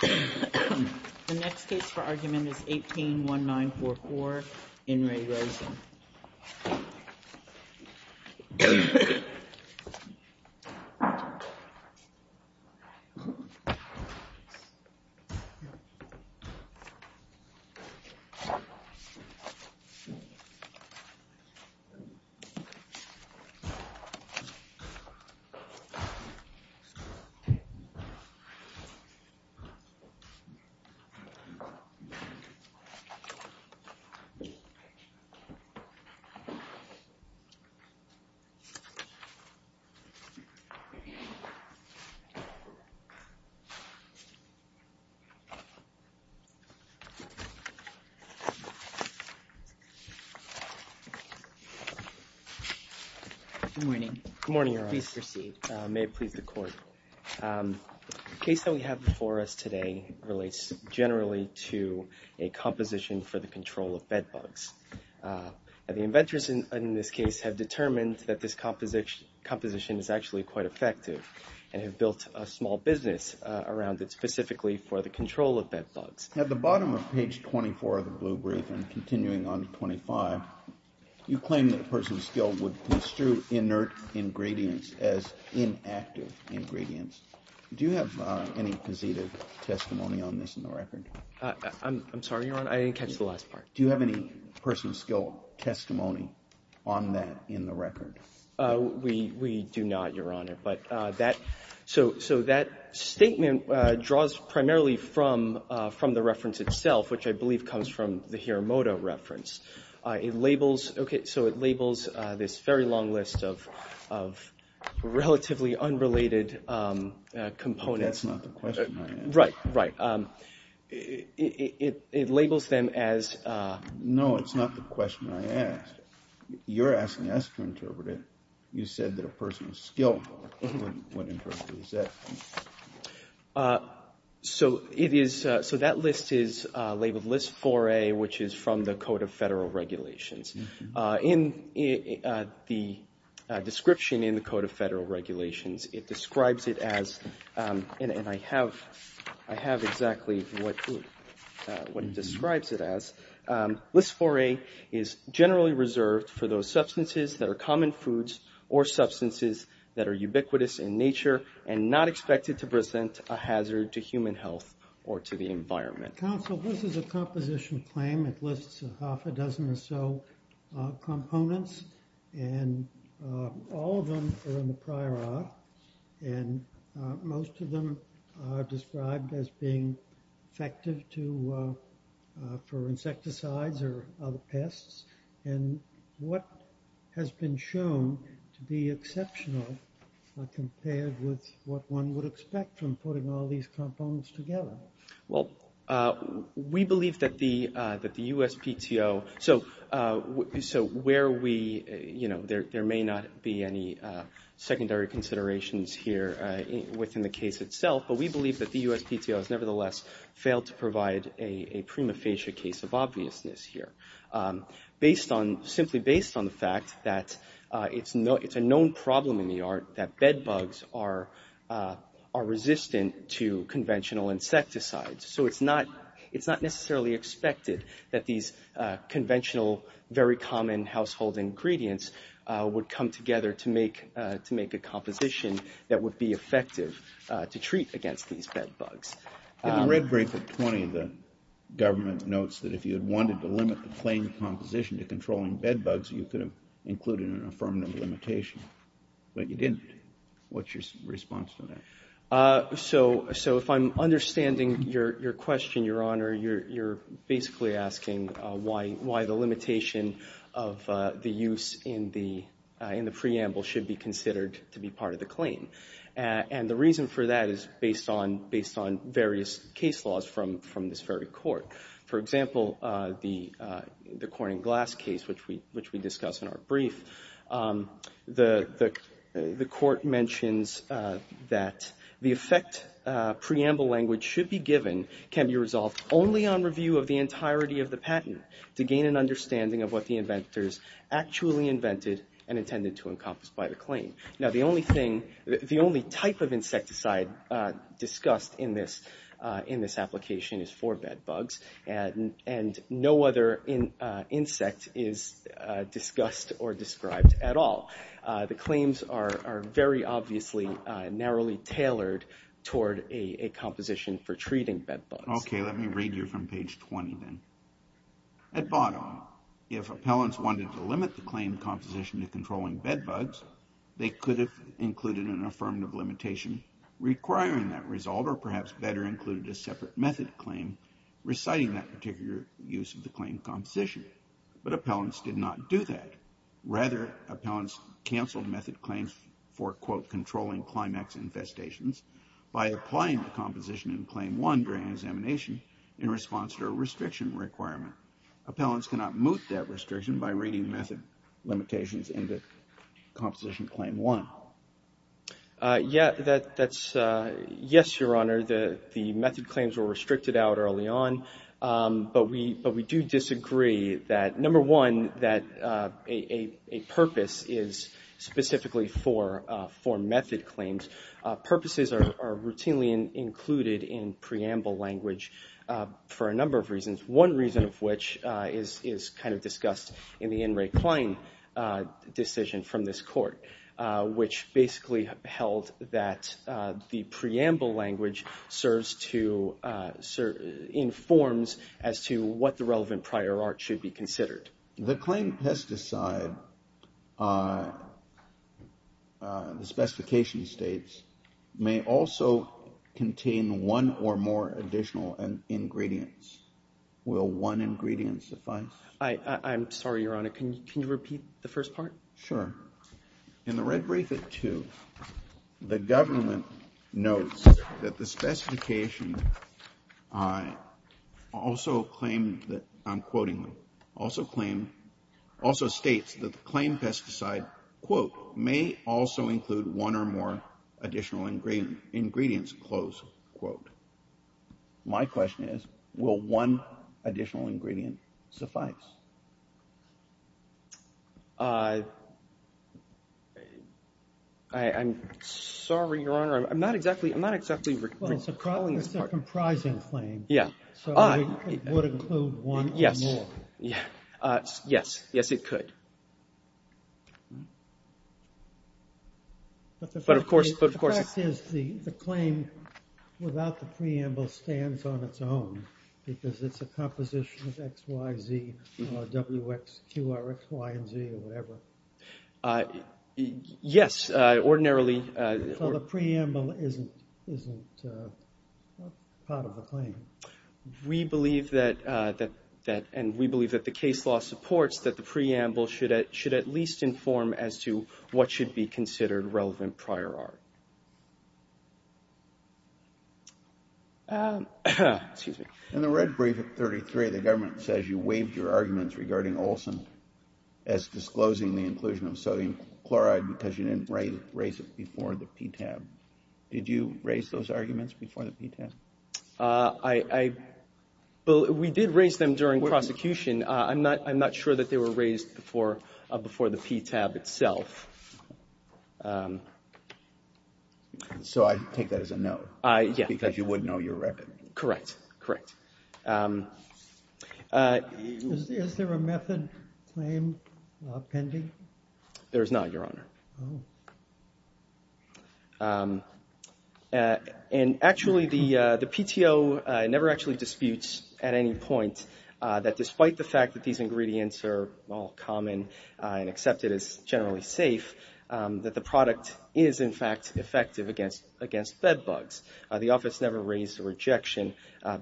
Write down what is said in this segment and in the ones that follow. The next case for argument is 18-1944, In Re Rosen. Good morning. Good morning, Your Honor. Please proceed. May it please the Court. The case that we have before us today relates generally to a composition for the control of bed bugs. The inventors in this case have determined that this composition is actually quite effective and have built a small business around it specifically for the control of bed bugs. At the bottom of page 24 of the blue brief and continuing on to 25, you claim that person-skilled would construe inert ingredients as inactive ingredients. Do you have any positive testimony on this in the record? I'm sorry, Your Honor. I didn't catch the last part. Do you have any person-skilled testimony on that in the record? We do not, Your Honor. But that so that statement draws primarily from the reference itself, which I believe comes from the Hiramoto reference. It labels, okay, so it labels this very long list of relatively unrelated components. That's not the question I asked. Right, right. It labels them as. No, it's not the question I asked. You're asking us to interpret it. You said that a person-skilled would interpret it. So that list is labeled LIS-4A, which is from the Code of Federal Regulations. In the description in the Code of Federal Regulations, it describes it as, and I have exactly what it describes it as, LIS-4A is generally reserved for those substances that are common foods or substances that are ubiquitous in nature and not expected to present a hazard to human health or to the environment. Counsel, this is a composition claim. It lists half a dozen or so components, and all of them are in the prior art, and most of them are described as being effective for insecticides or other pests. And what has been shown to be exceptional compared with what one would expect from putting all these components together? Well, we believe that the USPTO, so where we, you know, there may not be any secondary considerations here within the case itself, but we believe that the USPTO has nevertheless failed to provide a prima facie case of obviousness here. Based on, simply based on the fact that it's a known problem in the art that bed bugs are resistant to conventional insecticides. So it's not necessarily expected that these conventional, very common household ingredients would come together to make a composition that would be effective to treat against these bed bugs. In the red bracket 20, the government notes that if you had wanted to limit the claim composition to controlling bed bugs, you could have included an affirmative limitation, but you didn't. What's your response to that? So if I'm understanding your question, Your Honor, you're basically asking why the limitation of the use in the preamble should be considered to be part of the claim. And the reason for that is based on various case laws from this very court. For example, the corn and glass case, which we discussed in our brief, the court mentions that the effect preamble language should be given can be resolved only on review of the entirety of the patent to gain an understanding of what the inventors actually invented and intended to encompass by the claim. Now the only thing, the only type of insecticide discussed in this application is for bed bugs, and no other insect is discussed or described at all. The claims are very obviously narrowly tailored toward a composition for treating bed bugs. Okay, let me read you from page 20 then. At bottom, if appellants wanted to limit the claim composition to controlling bed bugs, they could have included an affirmative limitation requiring that result or perhaps better included a separate method claim reciting that particular use of the claim composition. But appellants did not do that. Rather, appellants canceled method claims for, quote, controlling climax infestations by applying the composition in claim one during examination in response to a restriction requirement. Appellants cannot moot that restriction by reading method limitations in the composition claim one. Yes, Your Honor, the method claims were restricted out early on, but we do disagree that, number one, that a purpose is specifically for method claims. Purposes are routinely included in preamble language for a number of reasons. One reason of which is kind of discussed in the In Re Claim decision from this court, which basically held that the preamble language serves to, informs as to what the relevant prior art should be considered. The claim pesticide, the specification states, may also contain one or more additional ingredients. Will one ingredient suffice? I'm sorry, Your Honor. Can you repeat the first part? Sure. In the red brief at two, the government notes that the specification also claimed that, I'm quoting, also states that the claim pesticide, quote, may also include one or more additional ingredients, close quote. My question is, will one additional ingredient suffice? I'm sorry, Your Honor. I'm not exactly recalling this part. Well, it's a comprising claim. Yeah. So it would include one or more. Yes. Yes. Yes, it could. But the fact is the claim without the preamble stands on its own because it's a composition of X, Y, Z. W, X, Q, R, X, Y, and Z or whatever. Yes, ordinarily. So the preamble isn't part of the claim. We believe that, and we believe that the case law supports that the preamble should at least inform as to what should be considered relevant prior art. Excuse me. In the red brief at 33, the government says you waived your arguments regarding Olson as disclosing the inclusion of sodium chloride because you didn't raise it before the PTAB. Did you raise those arguments before the PTAB? I, well, we did raise them during prosecution. I'm not sure that they were raised before the PTAB itself. So I take that as a no. Yes. Because you wouldn't know your record. Correct. Correct. There is not, Your Honor. And actually the PTO never actually disputes at any point that despite the fact that these ingredients are all common and accepted as generally safe, that the product is in fact effective against bed bugs. The office never raised a rejection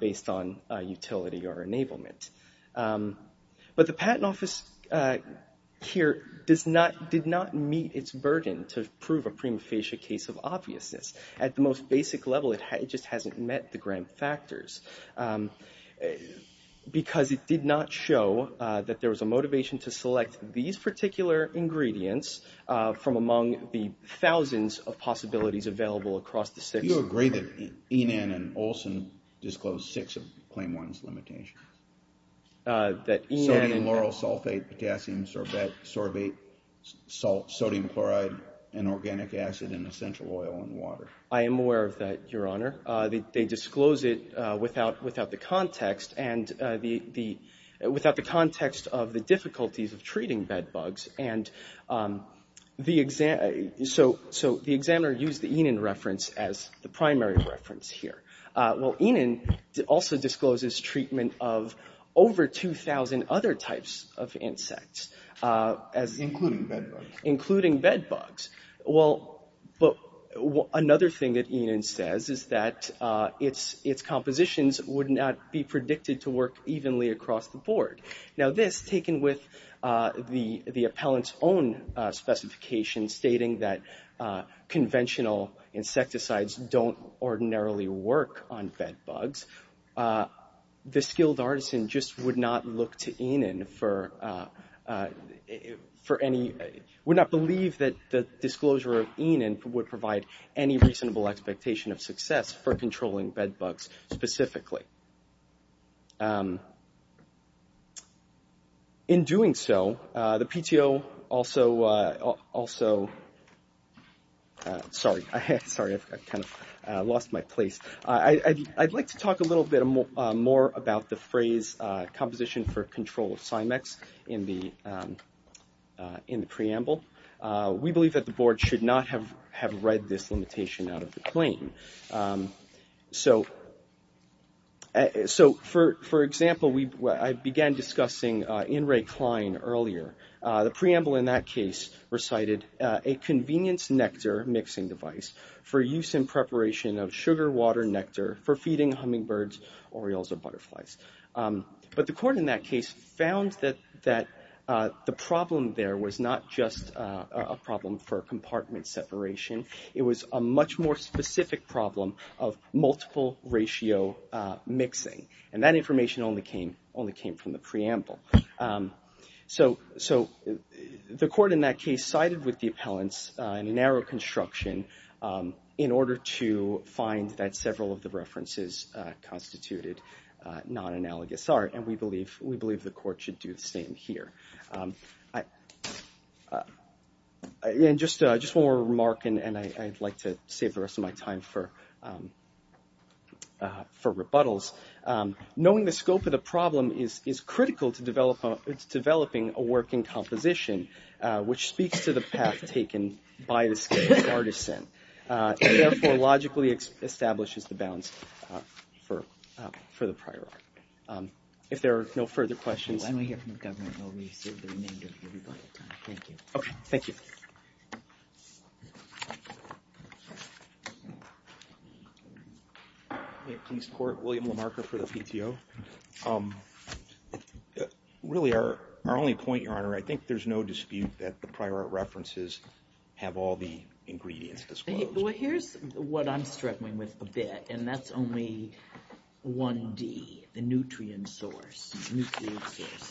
based on utility or enablement. But the patent office here did not meet its burden to prove a prima facie case of obviousness. At the most basic level, it just hasn't met the grand factors because it did not show that there was a motivation to select these particular ingredients from among the thousands of possibilities available across the six. Do you agree that Enan and Olson disclosed six of Claim 1's limitations? That Enan and Olson. Sodium lauryl sulfate, potassium sorbate, sodium chloride, and organic acid in essential oil and water. I am aware of that, Your Honor. They disclose it without the context of the difficulties of treating bed bugs. And so the examiner used the Enan reference as the primary reference here. Well, Enan also discloses treatment of over 2,000 other types of insects. Including bed bugs. Including bed bugs. Well, another thing that Enan says is that its compositions would not be predicted to work evenly across the board. Now this, taken with the appellant's own specification stating that conventional insecticides don't ordinarily work on bed bugs. The skilled artisan just would not look to Enan for any, would not believe that there were bed bugs. And that disclosure of Enan would provide any reasonable expectation of success for controlling bed bugs specifically. In doing so, the PTO also, sorry, I've kind of lost my place. I'd like to talk a little bit more about the phrase composition for control of Cymex in the preamble. We believe that the board should not have read this limitation out of the claim. So, for example, I began discussing In re Klein earlier. The preamble in that case recited a convenience nectar mixing device for use in preparation of sugar water nectar for feeding hummingbirds, orioles, or butterflies. But the court in that case found that the problem there was not just a problem for compartment separation. It was a much more specific problem of multiple ratio mixing. And that information only came from the preamble. So the court in that case sided with the appellant's narrow construction in order to find that several of the references constituted non-existent. And we believe the court should do the same here. And just one more remark, and I'd like to save the rest of my time for rebuttals. Knowing the scope of the problem is critical to developing a working composition, which speaks to the path taken by the skilled artisan, and therefore logically establishes the bounds for the prior art. If there are no further questions... Okay, thank you. William Lamarcker for the PTO. Really, our only point, Your Honor, I think there's no dispute that the prior art references have all the ingredients disclosed. Well, here's what I'm struggling with a bit, and that's only 1D, the nutrient source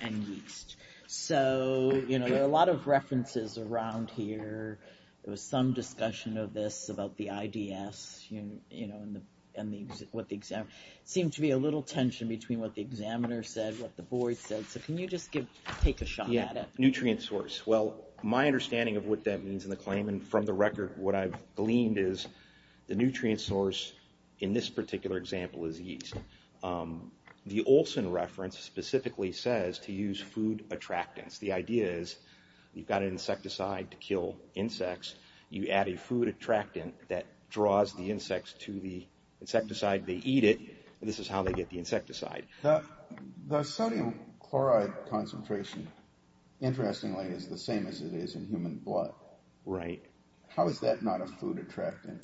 and yeast. So, you know, there are a lot of references around here. There was some discussion of this about the IDS, you know, and what the examiner... Seemed to be a little tension between what the examiner said, what the board said. So can you just take a shot at it? Yeah, nutrient source. Well, my understanding of what that means in the claim, and from the record, what I've gleaned is the nutrient source in this particular example is yeast. The Olson reference specifically says to use food attractants. The idea is you've got an insecticide to kill insects. You add a food attractant that draws the insects to the insecticide, they eat it, and this is how they get the insecticide. The sodium chloride concentration, interestingly, is the same as it is in human blood. How is that not a food attractant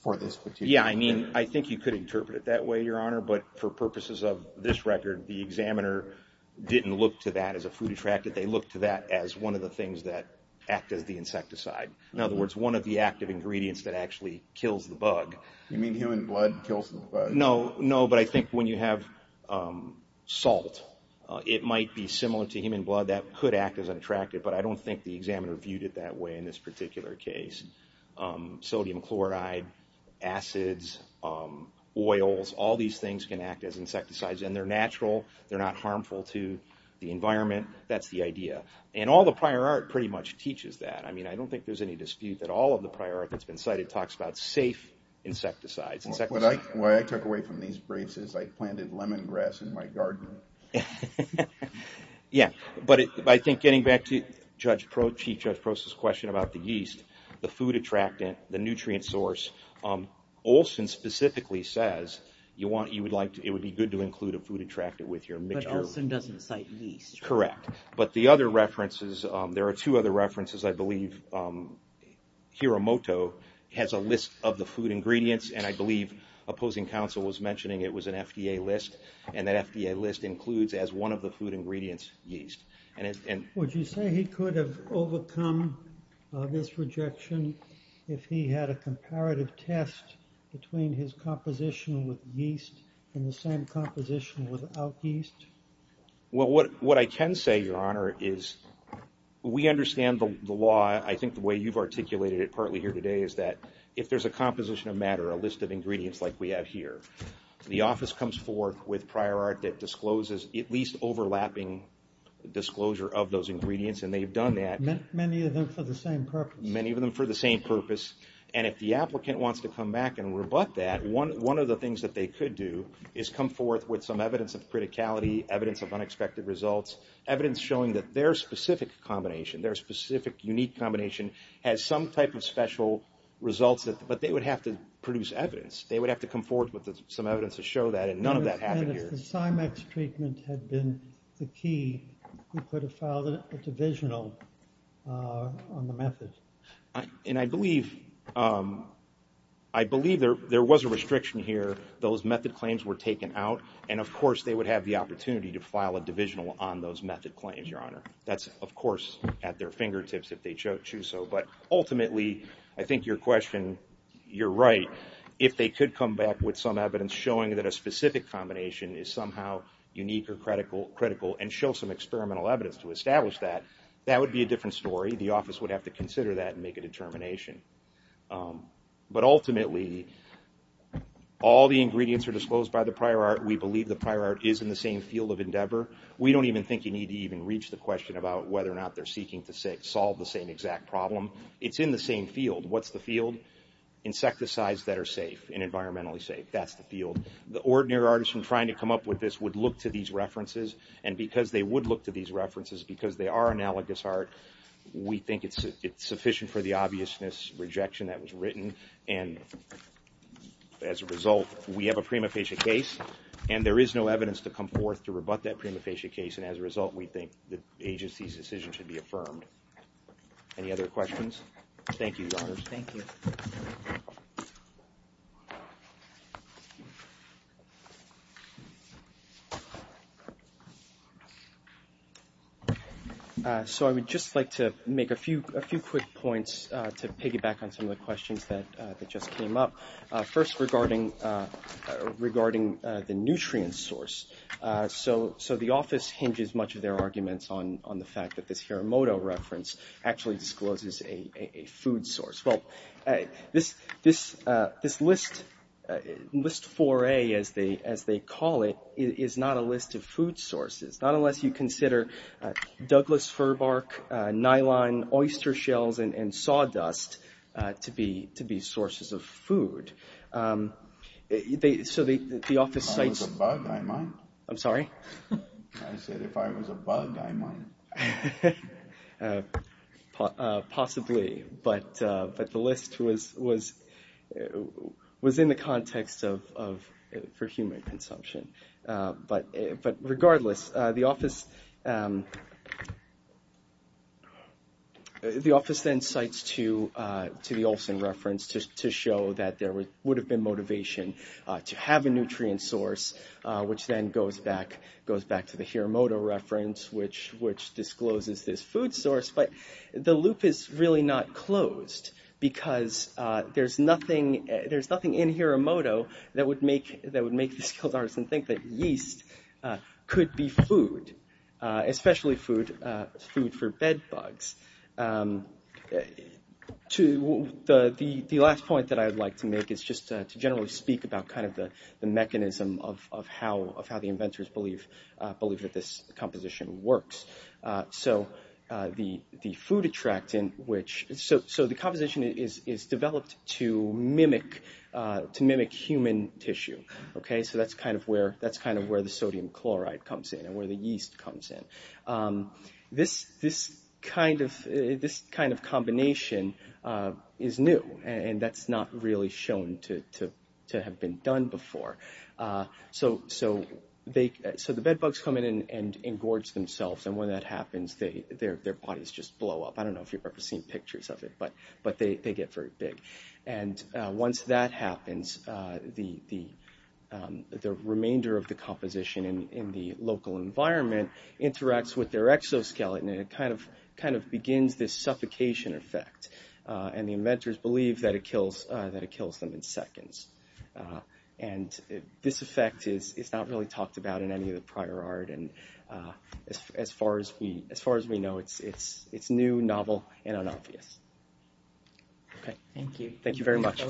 for this particular... Yeah, I mean, I think you could interpret it that way, Your Honor, but for purposes of this record, the examiner didn't look to that as a food attractant. They looked to that as one of the things that act as the insecticide. In other words, one of the active ingredients that actually kills the bug. You mean human blood kills the bug? No, but I think when you have salt, it might be similar to human blood. That could act as an attractant, but I don't think the examiner viewed it that way in this particular case. Sodium chloride, acids, oils, all these things can act as insecticides, and they're natural. They're not harmful to the environment. That's the idea. And all the prior art pretty much teaches that. I mean, I don't think there's any dispute that all of the prior art that's been cited talks about safe insecticides. Well, what I took away from these briefs is I planted lemongrass in my garden. Yeah, but I think getting back to Chief Judge Proce's question about the yeast, the food attractant, the nutrient source, Olson specifically says it would be good to include a food attractant with your mixture. Olson doesn't cite yeast. Correct, but there are two other references. I believe Hiramoto has a list of the food ingredients, and I believe opposing counsel was mentioning it was an FDA list. And that FDA list includes, as one of the food ingredients, yeast. Would you say he could have overcome this rejection if he had a comparative test between his composition with yeast and the same composition without yeast? Well, what I can say, Your Honor, is we understand the law. I think the way you've articulated it partly here today is that if there's a composition of matter, a list of ingredients like we have here, the office comes forth with prior art that discloses at least overlapping disclosure of those ingredients, and they've done that. Many of them for the same purpose. And if the applicant wants to come back and rebut that, one of the things that they could do is come forth with some evidence of criticality, evidence of unexpected results, evidence showing that their specific combination, their specific unique combination, has some type of special results, but they would have to produce evidence. They would have to come forth with some evidence to show that, and none of that happened here. If the SIMEX treatment had been the key, you could have filed a divisional on the method. And I believe there was a restriction here. Those method claims were taken out, and, of course, they would have the opportunity to file a divisional on those method claims, Your Honor. That's, of course, at their fingertips if they choose so. But ultimately, I think your question, you're right. If they could come back with some evidence showing that a specific combination is somehow unique or critical and show some experimental evidence to establish that, that would be a different story. The office would have to consider that and make a determination. But ultimately, all the ingredients are disclosed by the prior art. It's in the same field. What's the field? Insecticides that are safe and environmentally safe. That's the field. The ordinary artist from trying to come up with this would look to these references, and because they would look to these references, because they are analogous art, we think it's sufficient for the obviousness rejection that was written. And as a result, we have a prima facie case, and there is no evidence to come forth to rebut that prima facie case. And as a result, we think the agency's decision should be affirmed. Any other questions? Thank you, Your Honor. So I would just like to make a few quick points to piggyback on some of the questions that just came up. First, regarding the nutrient source. So the office hinges much of their arguments on the fact that this Hiramoto reference actually discloses a food source. Well, this list, list 4A as they call it, is not a list of food sources. Not unless you consider Douglas fir bark, nylon, oyster shells, and sawdust to be sources of food. So the office cites... I'm sorry? I said if I was a bug, I might. Possibly, but the list was in the context for human consumption. But regardless, the office... The office then cites to the Olson reference to show that there would have been motivation to have a nutrient source, which then goes back to the Hiramoto reference, which discloses this food source. But the loop is really not closed, because there's nothing in Hiramoto that would make the skilled artisan think that yeast could be food. Especially food for bed bugs. The last point that I'd like to make is just to generally speak about the mechanism of how the inventors believe that this composition works. So the composition is developed to mimic human tissue. So that's kind of where the sodium chloride comes in, and where the yeast comes in. This kind of combination is new, and that's not really shown to have been done before. So the bed bugs come in and engorge themselves, and when that happens, their bodies just blow up. I don't know if you've ever seen pictures of it, but they get very big. The remainder of the composition in the local environment interacts with their exoskeleton, and it kind of begins this suffocation effect. And the inventors believe that it kills them in seconds. And this effect is not really talked about in any of the prior art. As far as we know, it's new, novel, and unobvious. Thank you very much.